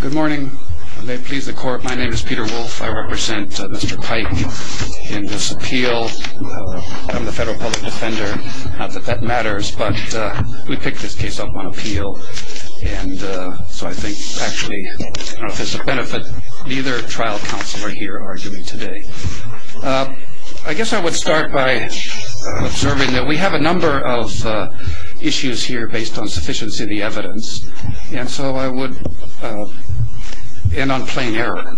Good morning. May it please the court, my name is Peter Wolfe. I represent Mr. Paik in this appeal. I'm the federal public defender, not that that matters, but we picked this case up on appeal and so I think actually, I don't know if it's a benefit, neither trial counsel are here arguing today. I guess I would start by observing that we have a number of issues here based on sufficiency of the evidence and so I would end on plain error.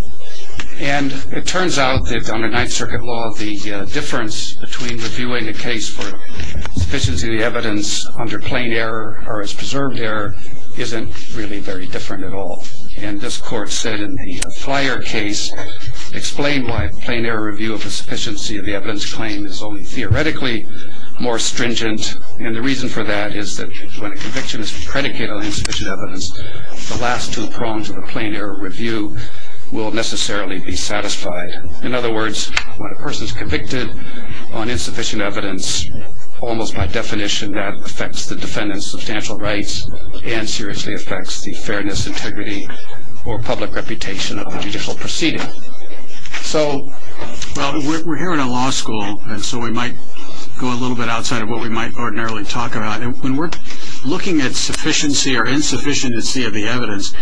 And it turns out that under Ninth Circuit law, the difference between reviewing a case for sufficiency of the evidence under plain error or as preserved error isn't really very different at all. And this court said in the Flyer case, explain why plain error review of the sufficiency of the evidence claim is only theoretically more stringent and the reason for that is that when a conviction is predicated on insufficient evidence, the last two prongs of the plain error review will necessarily be satisfied. In other words, when a person is convicted on insufficient evidence, almost by definition that affects the defendant's substantial rights and seriously affects the fairness, integrity, or public reputation of the judicial proceeding. Well, we're here in a law school and so we might go a little bit outside of what we might ordinarily talk about. When we're looking at sufficiency or insufficiency of the evidence,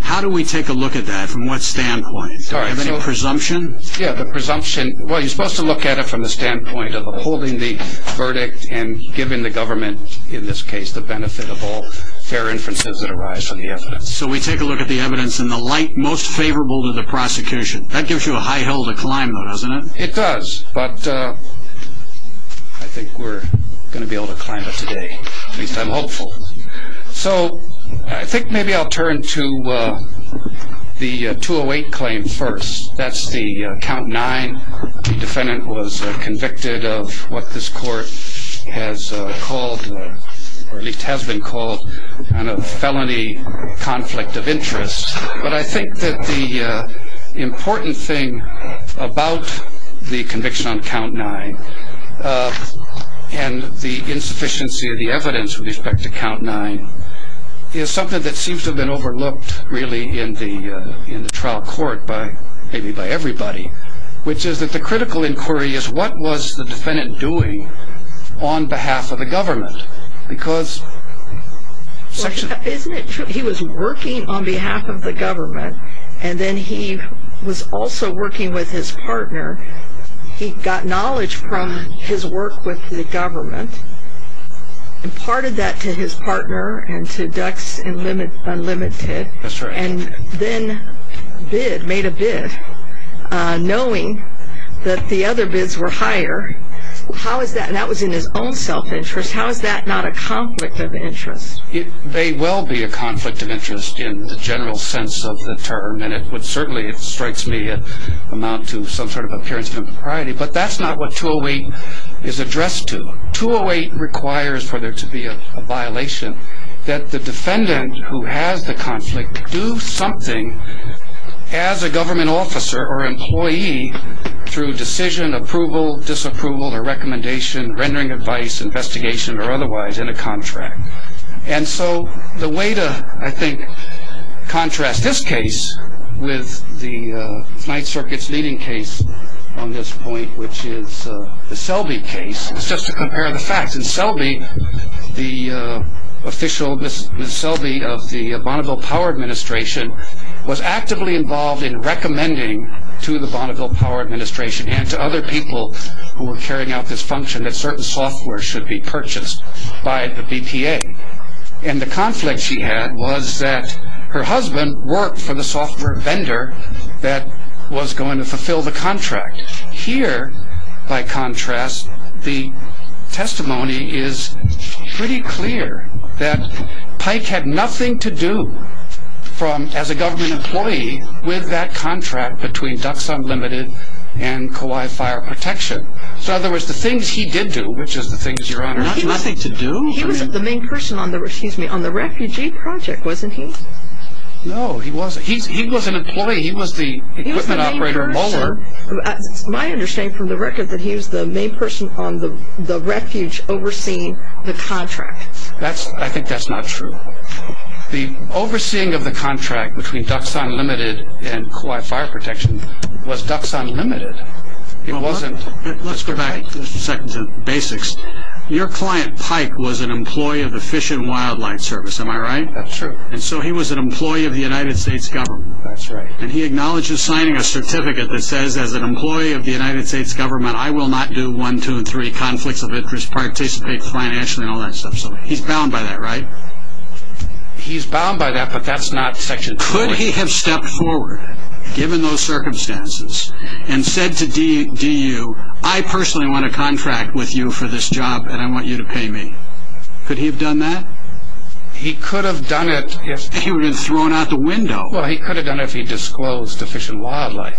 how do we take a look at that? From what standpoint? Do I have any presumption? Yeah, the presumption, well you're supposed to look at it from the standpoint of upholding the verdict and giving the government, in this case, the benefit of all fair inferences that arise from the evidence. So we take a look at the evidence in the light most favorable to the prosecution. That gives you a high hill to climb, doesn't it? It does, but I think we're going to be able to climb it today, at least I'm hopeful. So I think maybe I'll turn to the 208 claim first. That's the count nine. The defendant was convicted of what this court has called, or at least has been called, a felony conflict of interest. But I think that the important thing about the conviction on count nine, and the insufficiency of the evidence with respect to count nine, is something that seems to have been overlooked really in the trial court, maybe by everybody, which is that the critical inquiry is what was the defendant doing on behalf of the government? He was working on behalf of the government, and then he was also working with his partner. He got knowledge from his work with the government, imparted that to his partner and to Ducks Unlimited, and then bid, made a bid, knowing that the other bids were higher. How is that, and that was in his own self-interest, how is that not a conflict of interest? It may well be a conflict of interest in the general sense of the term, and it would certainly, it strikes me, amount to some sort of appearance of impropriety. But that's not what 208 is addressed to. 208 requires for there to be a violation that the defendant who has the conflict do something as a government officer or employee through decision, approval, disapproval, or recommendation, rendering advice, investigation, or otherwise in a contract. And so the way to, I think, contrast this case with the Ninth Circuit's leading case on this point, which is the Selby case, is just to compare the facts. Ms. Selby, the official Ms. Selby of the Bonneville Power Administration, was actively involved in recommending to the Bonneville Power Administration and to other people who were carrying out this function that certain software should be purchased by the BPA. And the conflict she had was that her husband worked for the software vendor that was going to fulfill the contract. Here, by contrast, the testimony is pretty clear that Pike had nothing to do as a government employee with that contract between Ducks Unlimited and Kauai Fire Protection. So in other words, the things he did do, which is the things Your Honor, he was the main person on the refugee project, wasn't he? No, he wasn't. He was an employee. He was the equipment operator. It's my understanding from the record that he was the main person on the refuge overseeing the contract. I think that's not true. The overseeing of the contract between Ducks Unlimited and Kauai Fire Protection was Ducks Unlimited. Let's go back a second to basics. Your client, Pike, was an employee of the Fish and Wildlife Service, am I right? That's true. And so he was an employee of the United States government. That's right. And he acknowledges signing a certificate that says, as an employee of the United States government, I will not do one, two, and three conflicts of interest, participate financially, and all that stuff. He's bound by that, right? He's bound by that, but that's not Section 4. Could he have stepped forward, given those circumstances, and said to DU, I personally want a contract with you for this job, and I want you to pay me? Could he have done that? He could have done it if... He would have been thrown out the window. Well, he could have done it if he disclosed to Fish and Wildlife.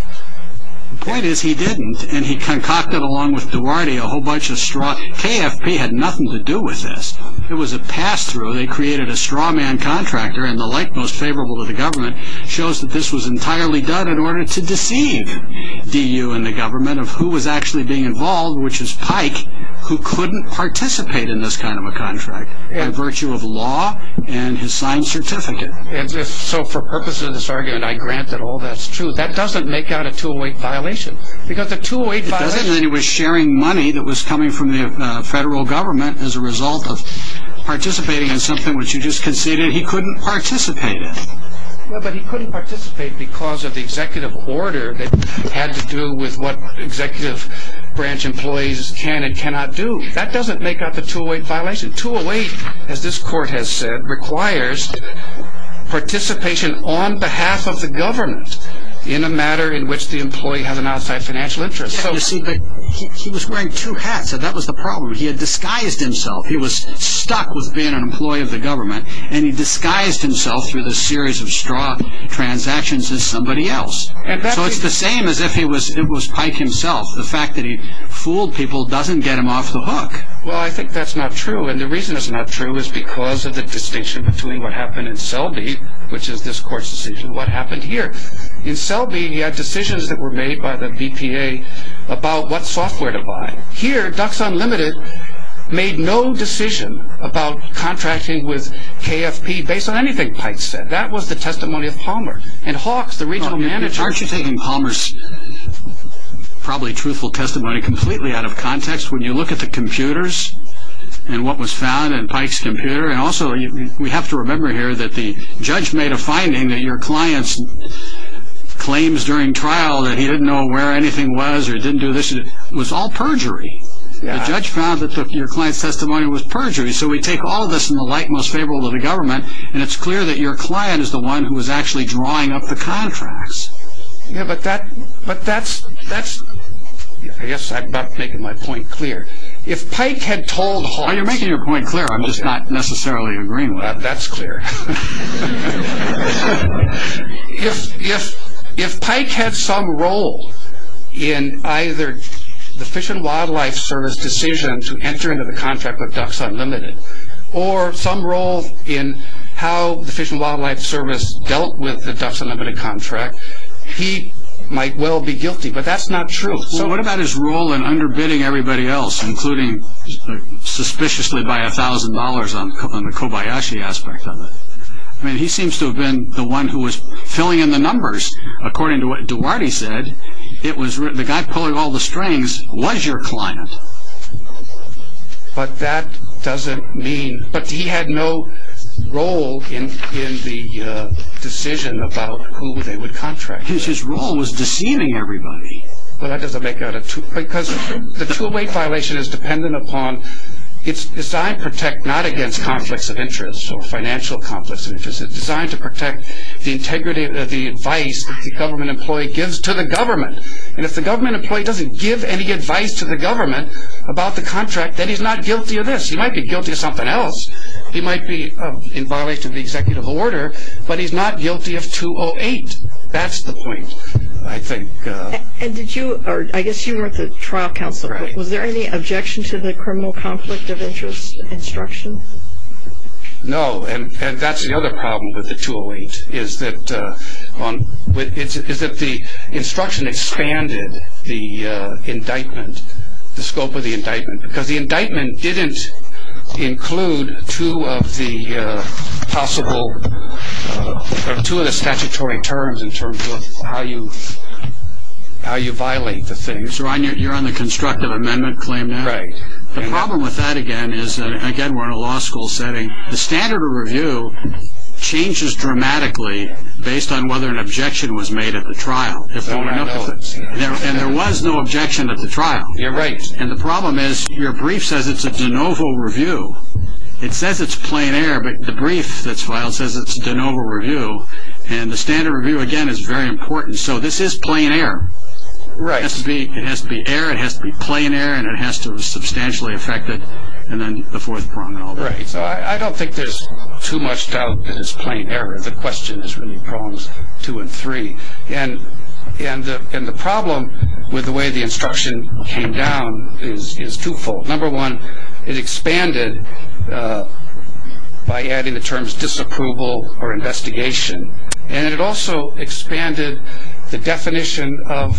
The point is, he didn't, and he concocted, along with Duarte, a whole bunch of straw... KFP had nothing to do with this. It was a pass-through. They created a straw man contractor, and the like most favorable to the government shows that this was entirely done in order to deceive DU and the government of who was actually being involved, which was Pike, who couldn't participate in this kind of a contract, by virtue of law and his signed certificate. And so, for purposes of this argument, I grant that all that's true. That doesn't make out a 208 violation, because the 208 violation... It doesn't, and he was sharing money that was coming from the federal government as a result of participating in something which you just conceded he couldn't participate in. Well, but he couldn't participate because of the executive order that had to do with what executive branch employees can and cannot do. That doesn't make out the 208 violation. 208, as this court has said, requires participation on behalf of the government in a matter in which the employee has an outside financial interest. Yeah, you see, but he was wearing two hats, and that was the problem. He had disguised himself. He was stuck with being an employee of the government, and he disguised himself through this series of straw transactions as somebody else. So it's the same as if it was Pike himself. Well, I think that's not true, and the reason it's not true is because of the distinction between what happened in Selby, which is this court's decision, and what happened here. In Selby, he had decisions that were made by the BPA about what software to buy. Here, Ducks Unlimited made no decision about contracting with KFP based on anything Pike said. That was the testimony of Palmer, and Hawks, the regional manager... When you look at the computers, and what was found in Pike's computer, and also we have to remember here that the judge made a finding that your client's claims during trial that he didn't know where anything was, or didn't do this, was all perjury. The judge found that your client's testimony was perjury, so we take all of this in the light most favorable to the government, and it's clear that your client is the one who was actually drawing up the contracts. Yeah, but that's... I guess I'm not making my point clear. If Pike had told Hawks... Oh, you're making your point clear, I'm just not necessarily agreeing with it. That's clear. If Pike had some role in either the Fish and Wildlife Service decision to enter into the contract with Ducks Unlimited, or some role in how the Fish and Wildlife Service dealt with the Ducks Unlimited contract, he might well be guilty, but that's not true. So what about his role in underbidding everybody else, including suspiciously by $1,000 on the Kobayashi aspect of it? I mean, he seems to have been the one who was filling in the numbers. According to what Duarte said, the guy pulling all the strings was your client. But that doesn't mean... But he had no role in the decision about who they would contract. His role was deceiving everybody. Well, that doesn't make it out of two... Because the two-way violation is dependent upon... It's designed to protect not against conflicts of interest or financial conflicts of interest. It's designed to protect the integrity of the advice that the government employee gives to the government. And if the government employee doesn't give any advice to the government about the contract, then he's not guilty of this. He might be guilty of something else. He might be in violation of the executive order, but he's not guilty of 208. That's the point, I think. And did you... I guess you were at the trial council. Was there any objection to the criminal conflict of interest instruction? No, and that's the other problem with the 208, is that the instruction expanded the indictment, the scope of the indictment, because the indictment didn't include two of the possible... or two of the statutory terms in terms of how you violate the thing. So you're on the constructive amendment claim now? Right. The problem with that, again, is that, again, we're in a law school setting. The standard of review changes dramatically based on whether an objection was made at the trial. And there was no objection at the trial. You're right. And the problem is your brief says it's a de novo review. It says it's plain air, but the brief that's filed says it's a de novo review, and the standard review, again, is very important. So this is plain air. It has to be air, it has to be plain air, and it has to substantially affect it, and then the fourth prong and all that. Right. So I don't think there's too much doubt that it's plain air. The question is really prongs two and three. And the problem with the way the instruction came down is twofold. Number one, it expanded by adding the terms disapproval or investigation, and it also expanded the definition of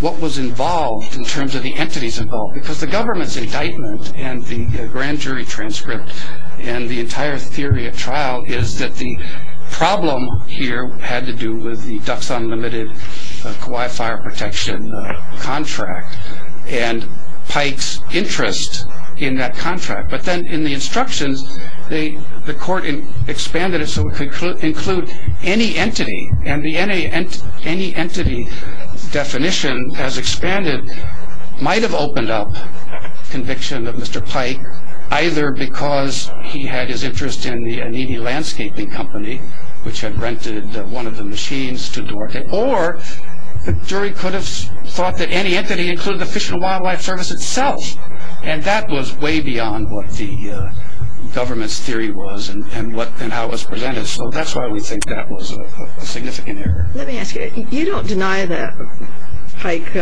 what was involved in terms of the entities involved, because the government's indictment and the grand jury transcript and the entire theory at trial is that the problem here had to do with the Ducks Unlimited Kauai fire protection contract and Pike's interest in that contract. But then in the instructions, the court expanded it so it could include any entity, and the any entity definition, as expanded, might have opened up conviction of Mr. Pike, either because he had his interest in the Anini Landscaping Company, which had rented one of the machines to work there, or the jury could have thought that any entity included the Fish and Wildlife Service itself, and that was way beyond what the government's theory was and how it was presented. So that's why we think that was a significant error. Let me ask you, you don't deny that Pike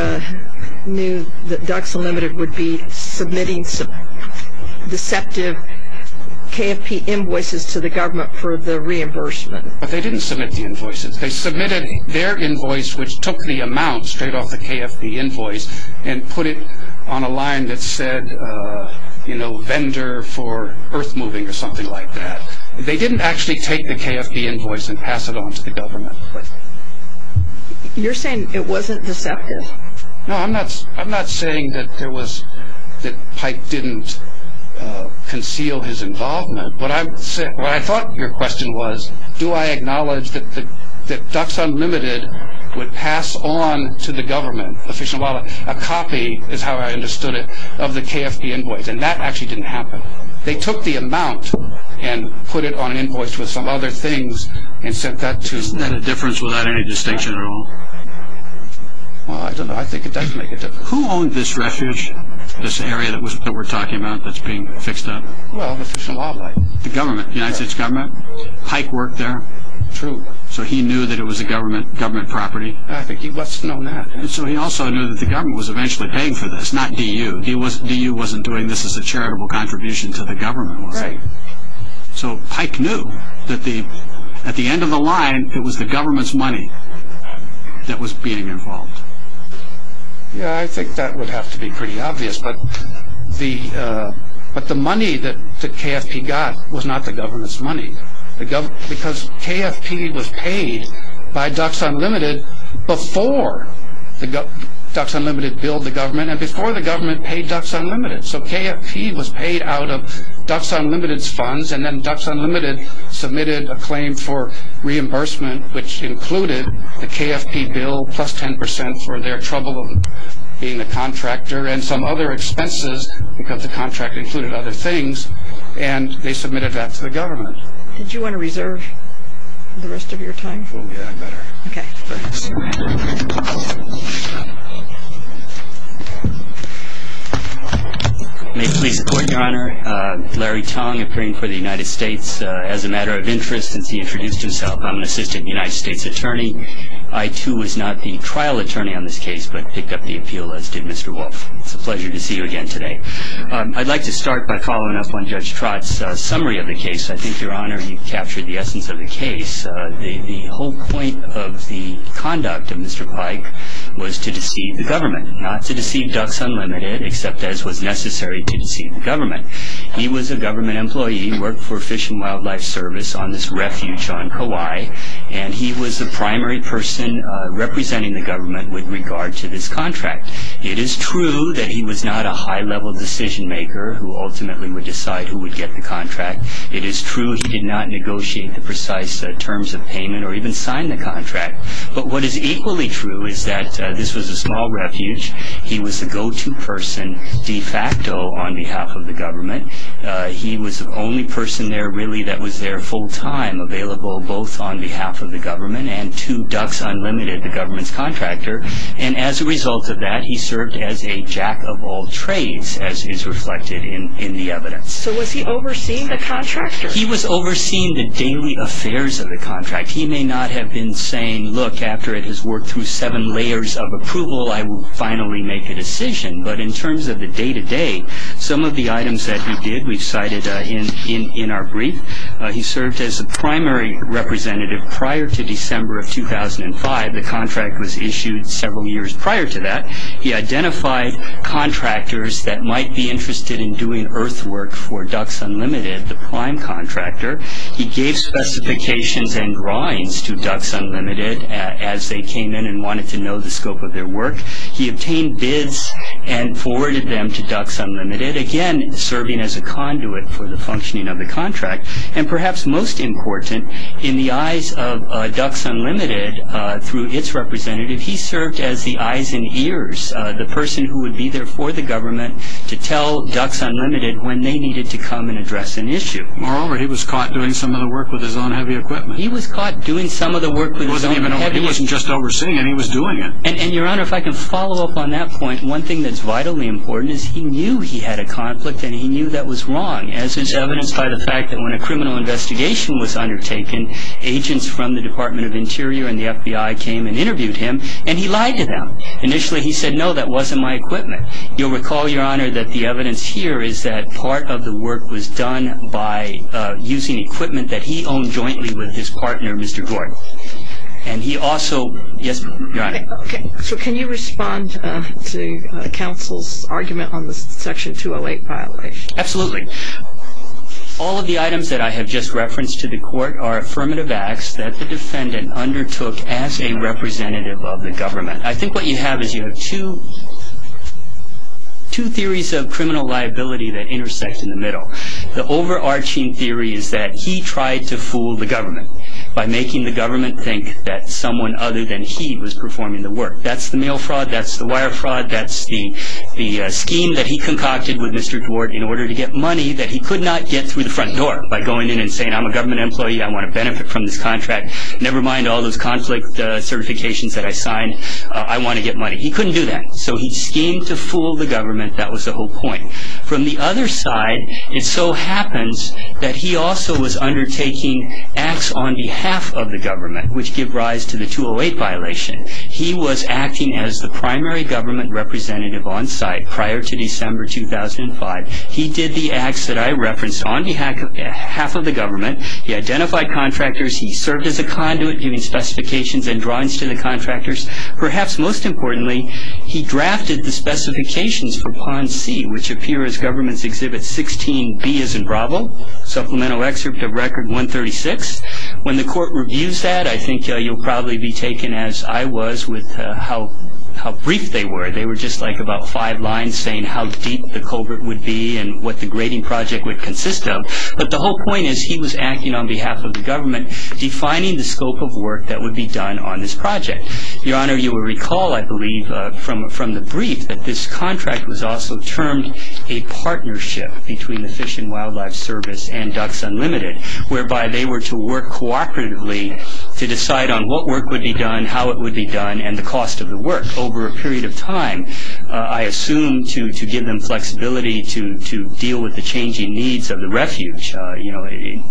knew that Ducks Unlimited would be submitting deceptive KFP invoices to the government for the reimbursement. But they didn't submit the invoices. They submitted their invoice, which took the amount straight off the KFP invoice, and put it on a line that said, you know, vendor for earth moving or something like that. They didn't actually take the KFP invoice and pass it on to the government. You're saying it wasn't deceptive? No, I'm not saying that there was, that Pike didn't conceal his involvement. What I thought your question was, do I acknowledge that Ducks Unlimited would pass on to the government, the Fish and Wildlife, a copy, is how I understood it, of the KFP invoice, and that actually didn't happen. They took the amount and put it on an invoice with some other things and sent that to Isn't that a difference without any distinction at all? Well, I don't know. I think it does make a difference. Who owned this refuge, this area that we're talking about that's being fixed up? Well, the Fish and Wildlife. The government, the United States government? Yes. Pike worked there? True. So he knew that it was a government property? I think he must have known that. So he also knew that the government was eventually paying for this, not DU. DU wasn't doing this as a charitable contribution to the government, was it? Right. So Pike knew that at the end of the line, it was the government's money that was being involved? Yeah, I think that would have to be pretty obvious, but the money that KFP got was not the government's money. Because KFP was paid by Ducks Unlimited before the Ducks Unlimited billed the government and before the government paid Ducks Unlimited. So KFP was paid out of Ducks Unlimited's funds, and then Ducks Unlimited submitted a claim for reimbursement, which included the KFP bill plus 10% for their trouble being the contractor and some other expenses because the contractor included other things, and they submitted that to the government. Did you want to reserve the rest of your time for me? Yeah, I'd better. Okay. May it please the Court, Your Honor. Larry Tong, appearing for the United States as a matter of interest. Since he introduced himself, I'm an assistant United States attorney. I, too, was not the trial attorney on this case, but picked up the appeal, as did Mr. Wolf. It's a pleasure to see you again today. I'd like to start by following up on Judge Trott's summary of the case. I think, Your Honor, you've captured the essence of the case. The whole point of the conduct of Mr. Pike was to deceive the government, not to deceive Ducks Unlimited, except as was necessary to deceive the government. He was a government employee, worked for Fish and Wildlife Service on this refuge on Kauai, and he was the primary person representing the government with regard to this contract. It is true that he was not a high-level decision-maker who ultimately would decide who would get the contract. It is true he did not negotiate the precise terms of payment or even sign the contract. But what is equally true is that this was a small refuge. He was the go-to person de facto on behalf of the government. He was the only person there, really, that was there full-time, available both on behalf of the government and to Ducks Unlimited, the government's contractor. And as a result of that, he served as a jack-of-all-trades, as is reflected in the evidence. So was he overseeing the contractor? He was overseeing the daily affairs of the contract. He may not have been saying, Look, after it has worked through seven layers of approval, I will finally make a decision. But in terms of the day-to-day, some of the items that he did we've cited in our brief. He served as a primary representative prior to December of 2005. The contract was issued several years prior to that. He identified contractors that might be interested in doing earthwork for Ducks Unlimited, the prime contractor. He gave specifications and drawings to Ducks Unlimited as they came in and wanted to know the scope of their work. He obtained bids and forwarded them to Ducks Unlimited, again serving as a conduit for the functioning of the contract. And perhaps most important, in the eyes of Ducks Unlimited, through its representative, he served as the eyes and ears, the person who would be there for the government, to tell Ducks Unlimited when they needed to come and address an issue. Moreover, he was caught doing some of the work with his own heavy equipment. He was caught doing some of the work with his own heavy equipment. He wasn't just overseeing it. He was doing it. And, Your Honor, if I can follow up on that point, one thing that's vitally important is he knew he had a conflict and he knew that was wrong, as is evidenced by the fact that when a criminal investigation was undertaken, agents from the Department of Interior and the FBI came and interviewed him and he lied to them. Initially, he said, no, that wasn't my equipment. You'll recall, Your Honor, that the evidence here is that part of the work was done by using equipment that he owned jointly with his partner, Mr. Gort. And he also, yes, Your Honor. Okay, so can you respond to counsel's argument on the Section 208 violation? Absolutely. All of the items that I have just referenced to the court are affirmative acts that the defendant undertook as a representative of the government. I think what you have is you have two theories of criminal liability that intersect in the middle. The overarching theory is that he tried to fool the government by making the government think that someone other than he was performing the work. That's the mail fraud. That's the wire fraud. That's the scheme that he concocted with Mr. Gort in order to get money that he could not get through the front door by going in and saying, I'm a government employee. I want to benefit from this contract. Never mind all those conflict certifications that I signed. I want to get money. He couldn't do that. So he schemed to fool the government. That was the whole point. From the other side, it so happens that he also was undertaking acts on behalf of the government, which give rise to the 208 violation. He was acting as the primary government representative on site prior to December 2005. He did the acts that I referenced on behalf of half of the government. He identified contractors. He served as a conduit, giving specifications and drawings to the contractors. Perhaps most importantly, he drafted the specifications for Plan C, which appear as Government's Exhibit 16B as in Bravo, supplemental excerpt of Record 136. When the court reviews that, I think you'll probably be taken as I was with how brief they were. They were just like about five lines saying how deep the culvert would be and what the grading project would consist of. But the whole point is he was acting on behalf of the government, defining the scope of work that would be done on this project. Your Honor, you will recall, I believe, from the brief that this contract was also termed a partnership between the Fish and Wildlife Service and Ducks Unlimited, whereby they were to work cooperatively to decide on what work would be done, how it would be done, and the cost of the work over a period of time. I assume to give them flexibility to deal with the changing needs of the refuge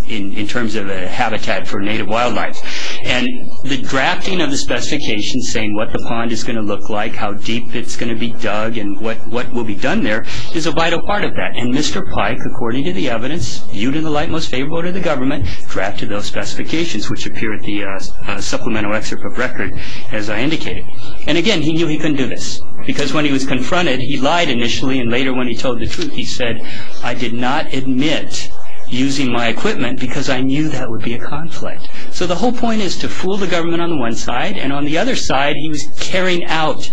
in terms of a habitat for native wildlife. The drafting of the specifications saying what the pond is going to look like, how deep it's going to be dug, and what will be done there is a vital part of that. Mr. Pike, according to the evidence, viewed in the light most favorable to the government, drafted those specifications which appear at the supplemental excerpt of record as I indicated. Again, he knew he couldn't do this because when he was confronted, he lied initially and later when he told the truth he said, I did not admit using my equipment because I knew that would be a conflict. The whole point is to fool the government on the one side and on the other side he was carrying out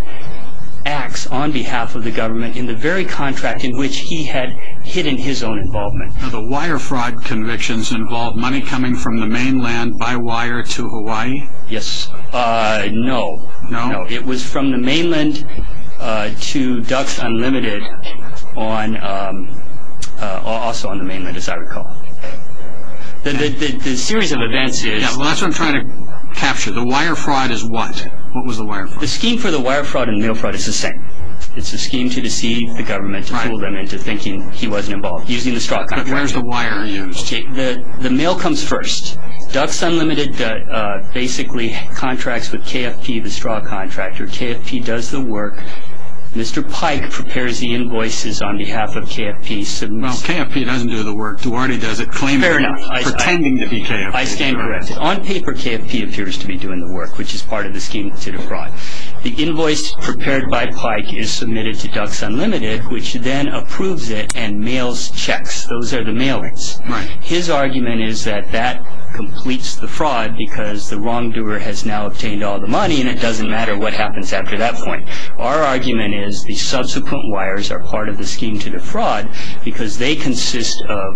acts on behalf of the government in the very contract in which he had hidden his own involvement. The wire fraud convictions involved money coming from the mainland by wire to Hawaii? Yes. No. No? It was from the mainland to Ducks Unlimited also on the mainland as I recall. The series of events is... That's what I'm trying to capture. The wire fraud is what? What was the wire fraud? The scheme for the wire fraud and mail fraud is the same. It's a scheme to deceive the government to fool them into thinking he wasn't involved using the straw contract. But where's the wire used? The mail comes first. Ducks Unlimited basically contracts with KFP, the straw contractor. KFP does the work. Mr. Pike prepares the invoices on behalf of KFP. Well, KFP doesn't do the work. Duarte does it claiming... Fair enough. Pretending to be KFP. I stand corrected. On paper, KFP appears to be doing the work which is part of the scheme to the fraud. The invoice prepared by Pike is submitted to Ducks Unlimited which then approves it and mails checks. Those are the mailings. Right. His argument is that that completes the fraud because the wrongdoer has now obtained all the money and it doesn't matter what happens after that point. Our argument is the subsequent wires are part of the scheme to the fraud because they consist of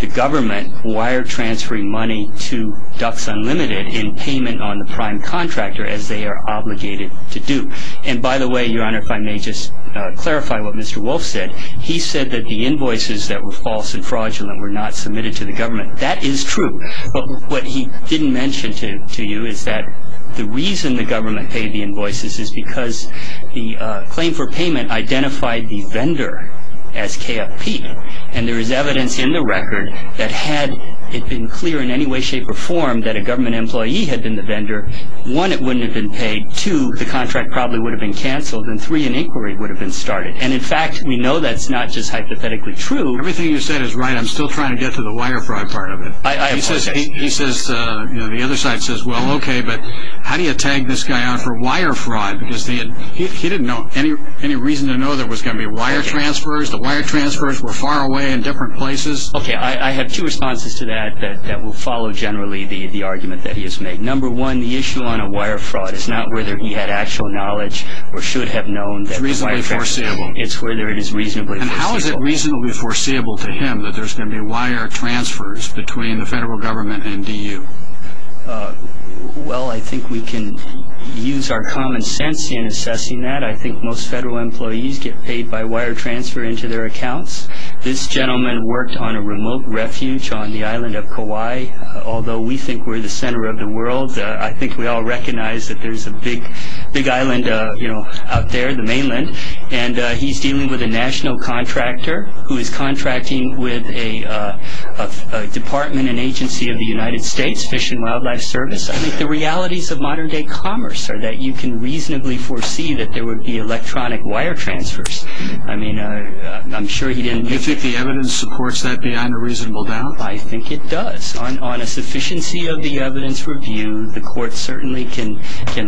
the government wire transferring money to Ducks Unlimited in payment on the prime contractor as they are obligated to do. And by the way, Your Honor, if I may just clarify what Mr. Wolf said. He said that the invoices that were false and fraudulent were not submitted to the government. That is true. But what he didn't mention to you is that the reason the government paid the invoices is because the claim for payment identified the vendor as KFP. And there is evidence in the record that had it been clear in any way, shape or form that a government employee had been the vendor, one, it wouldn't have been paid. Two, the contract probably would have been cancelled. And three, an inquiry would have been started. And in fact, we know that's not just hypothetically true. Everything you said is right. I'm still trying to get to the wire fraud part of it. He says, the other side says, well, okay, but how do you tag this guy out for wire fraud? Because he didn't know any reason to know there was going to be wire transfers. The wire transfers were far away in different places. Okay, I have two responses to that that will follow generally the argument that he has made. Number one, the issue on a wire fraud is not whether he had actual knowledge or should have known. It's reasonably foreseeable. It's whether it is reasonably foreseeable. And how is it reasonably foreseeable to him that there's going to be wire transfers between the federal government and DU? Well, I think we can use our common sense in assessing that. I think most federal employees get paid by wire transfer into their accounts. This gentleman worked on a remote refuge on the island of Kauai. Although we think we're the center of the world, I think we all recognize that there's a big island out there, the mainland. And he's dealing with a national contractor who is contracting with a department and agency of the United States Fish and Wildlife Service. I think the realities of modern-day commerce are that you can reasonably foresee that there would be electronic wire transfers. I mean, I'm sure he didn't know. Do you think the evidence supports that beyond a reasonable doubt? I think it does. On a sufficiency of the evidence reviewed, the court certainly can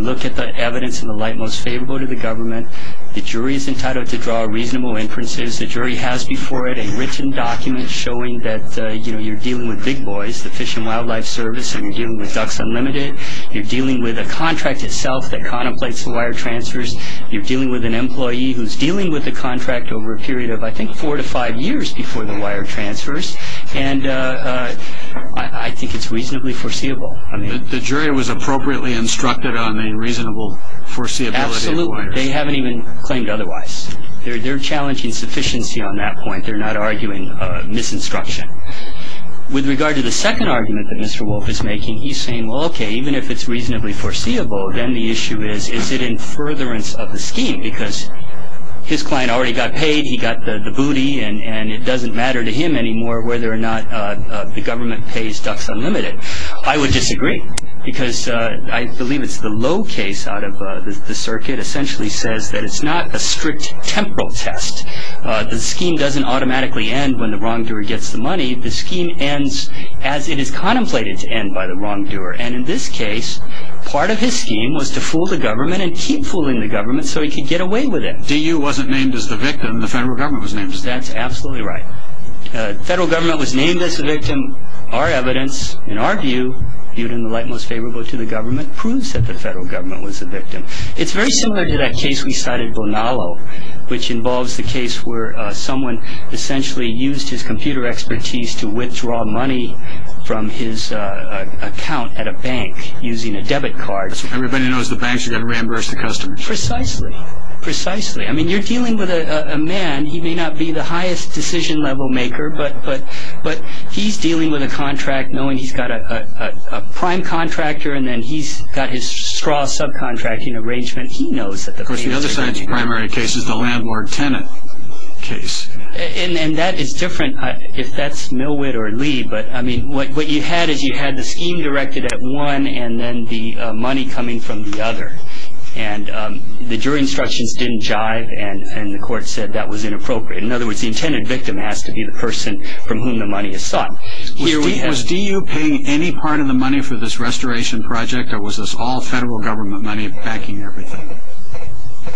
look at the evidence in the light most favorable to the government. The jury is entitled to draw reasonable inferences. The jury has before it a written document showing that you're dealing with big boys, the Fish and Wildlife Service, and you're dealing with Ducks Unlimited. You're dealing with a contract itself that contemplates wire transfers. You're dealing with an employee who's dealing with a contract over a period of, I think, four to five years before the wire transfers. And I think it's reasonably foreseeable. The jury was appropriately instructed on a reasonable foreseeability of wires. They haven't even claimed otherwise. They're challenging sufficiency on that point. They're not arguing misinstruction. With regard to the second argument that Mr. Wolf is making, he's saying, well, okay, even if it's reasonably foreseeable, then the issue is, is it in furtherance of the scheme? Because his client already got paid, he got the booty, and it doesn't matter to him anymore whether or not the government pays Ducks Unlimited. I would disagree, because I believe it's the low case out of the circuit, essentially says that it's not a strict temporal test. The scheme doesn't automatically end when the wrongdoer gets the money. The scheme ends as it is contemplated to end by the wrongdoer. And in this case, part of his scheme was to fool the government and keep fooling the government so he could get away with it. DU wasn't named as the victim. The federal government was named as the victim. That's absolutely right. The federal government was named as the victim. Our evidence, in our view, viewed in the light most favorable to the government, proves that the federal government was the victim. It's very similar to that case we cited, Bonalo, which involves the case where someone essentially used his computer expertise to withdraw money from his account at a bank using a debit card. Everybody knows the banks are going to reimburse the customers. Precisely. Precisely. I mean, you're dealing with a man, he may not be the highest decision level maker, but he's dealing with a contract knowing he's got a prime contractor and then he's got his straw subcontracting arrangement. He knows that the banks are going to reimburse him. Of course, the other science primary case is the Landward-Tennant case. And that is different if that's Millwood or Lee. But, I mean, what you had is you had the scheme directed at one and then the money coming from the other. And the jury instructions didn't jive, and the court said that was inappropriate. In other words, the intended victim has to be the person from whom the money is sought. Was DU paying any part of the money for this restoration project or was this all federal government money backing everything?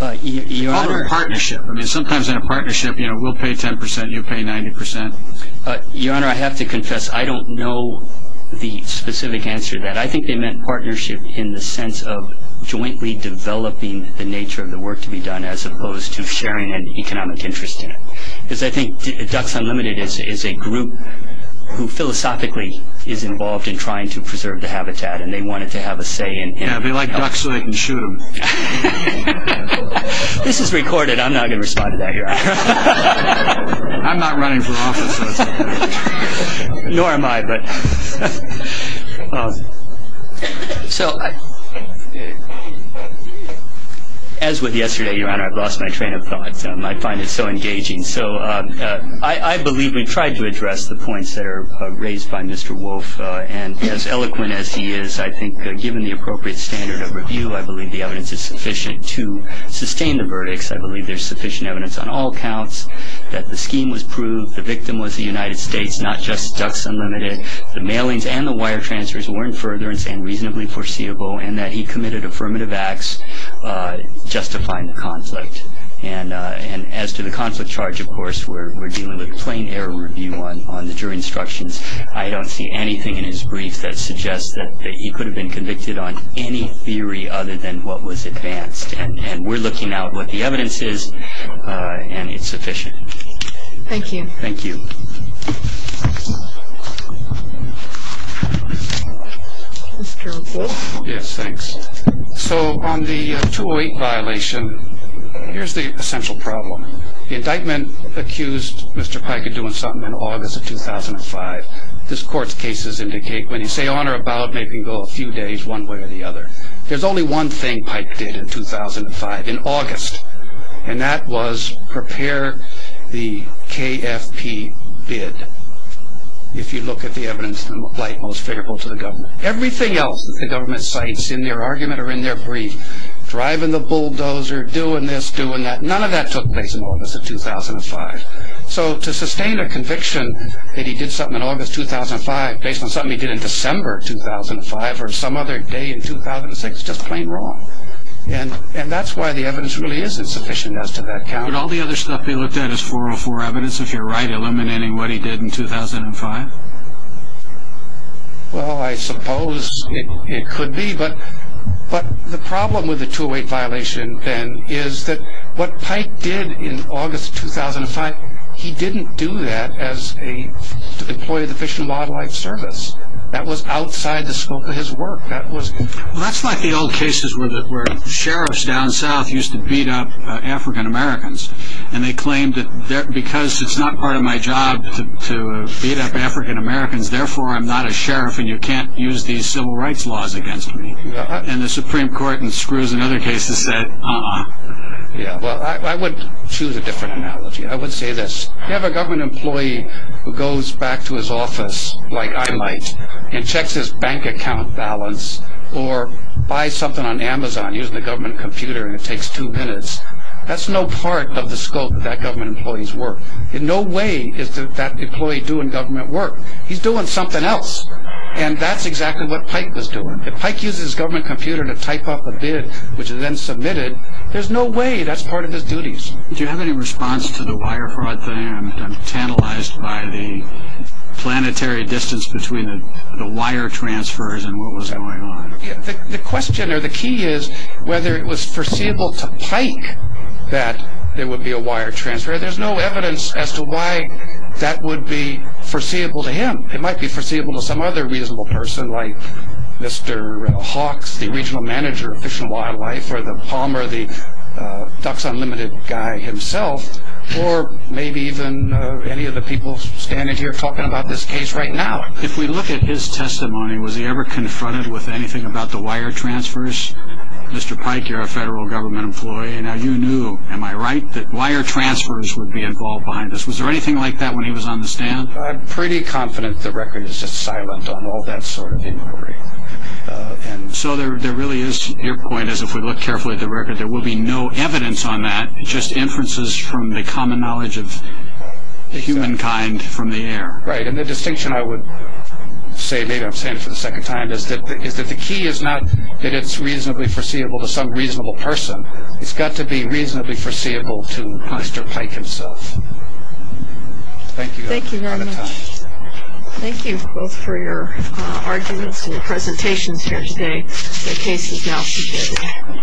All in a partnership. I mean, sometimes in a partnership, you know, we'll pay 10%, you'll pay 90%. Your Honor, I have to confess I don't know the specific answer to that. I think they meant partnership in the sense of jointly developing the nature of the work to be done as opposed to sharing an economic interest in it. Because I think Ducks Unlimited is a group who philosophically is involved in trying to preserve the habitat. And they wanted to have a say in it. Yeah, they like ducks so they can shoot them. This is recorded. I'm not going to respond to that, Your Honor. I'm not running for office. Nor am I. So as with yesterday, Your Honor, I've lost my train of thought. I find it so engaging. So I believe we've tried to address the points that are raised by Mr. Wolf. And as eloquent as he is, I think given the appropriate standard of review, I believe the evidence is sufficient to sustain the verdicts. I believe there's sufficient evidence on all counts that the scheme was proved, the victim was the United States, not just Ducks Unlimited, the mailings and the wire transfers were in furtherance and reasonably foreseeable, and that he committed affirmative acts justifying the conflict. And as to the conflict charge, of course, we're dealing with plain error review on the jury instructions. I don't see anything in his brief that suggests that he could have been convicted on any theory other than what was advanced. And we're looking out what the evidence is, and it's sufficient. Thank you. Thank you. Mr. Wolf? Yes, thanks. So on the 208 violation, here's the essential problem. The indictment accused Mr. Pike of doing something in August of 2005. This court's cases indicate when you say on or about, it may go a few days one way or the other. There's only one thing Pike did in 2005, in August, and that was prepare the KFP bid if you look at the evidence in the light most favorable to the government. Everything else that the government cites in their argument or in their brief, driving the bulldozer, doing this, doing that, none of that took place in August of 2005. So to sustain a conviction that he did something in August 2005 based on something he did in December 2005 or some other day in 2006 is just plain wrong. And that's why the evidence really isn't sufficient as to that count. But all the other stuff he looked at is 404 evidence, if you're right, eliminating what he did in 2005? Well, I suppose it could be. But the problem with the 208 violation, then, is that what Pike did in August 2005, he didn't do that as an employee of the Fish and Wildlife Service. That was outside the scope of his work. Well, that's like the old cases where sheriffs down south used to beat up African-Americans, and they claimed that because it's not part of my job to beat up African-Americans, therefore I'm not a sheriff and you can't use these civil rights laws against me. And the Supreme Court in Screws and other cases said, uh-uh. Yeah, well, I would choose a different analogy. I would say this. You have a government employee who goes back to his office, like I might, and checks his bank account balance or buys something on Amazon using a government computer and it takes two minutes. That's no part of the scope of that government employee's work. In no way is that employee doing government work. He's doing something else. And that's exactly what Pike was doing. If Pike uses his government computer to type up a bid, which is then submitted, there's no way that's part of his duties. Do you have any response to the wire fraud thing? I'm tantalized by the planetary distance between the wire transfers and what was going on. The question or the key is whether it was foreseeable to Pike that there would be a wire transfer. There's no evidence as to why that would be foreseeable to him. It might be foreseeable to some other reasonable person, like Mr. Hawks, the regional manager of Fish and Wildlife, or the Palmer, the Ducks Unlimited guy himself, or maybe even any of the people standing here talking about this case right now. If we look at his testimony, was he ever confronted with anything about the wire transfers? Mr. Pike, you're a federal government employee. Now, you knew, am I right, that wire transfers would be involved behind this. Was there anything like that when he was on the stand? I'm pretty confident the record is just silent on all that sort of inquiry. So there really is, your point is if we look carefully at the record, there will be no evidence on that, just inferences from the common knowledge of humankind from the air. Right, and the distinction I would say, maybe I'm saying it for the second time, is that the key is not that it's reasonably foreseeable to some reasonable person. It's got to be reasonably foreseeable to Mr. Pike himself. Thank you. Thank you very much. Thank you both for your arguments and your presentations here today. The case is now submitted.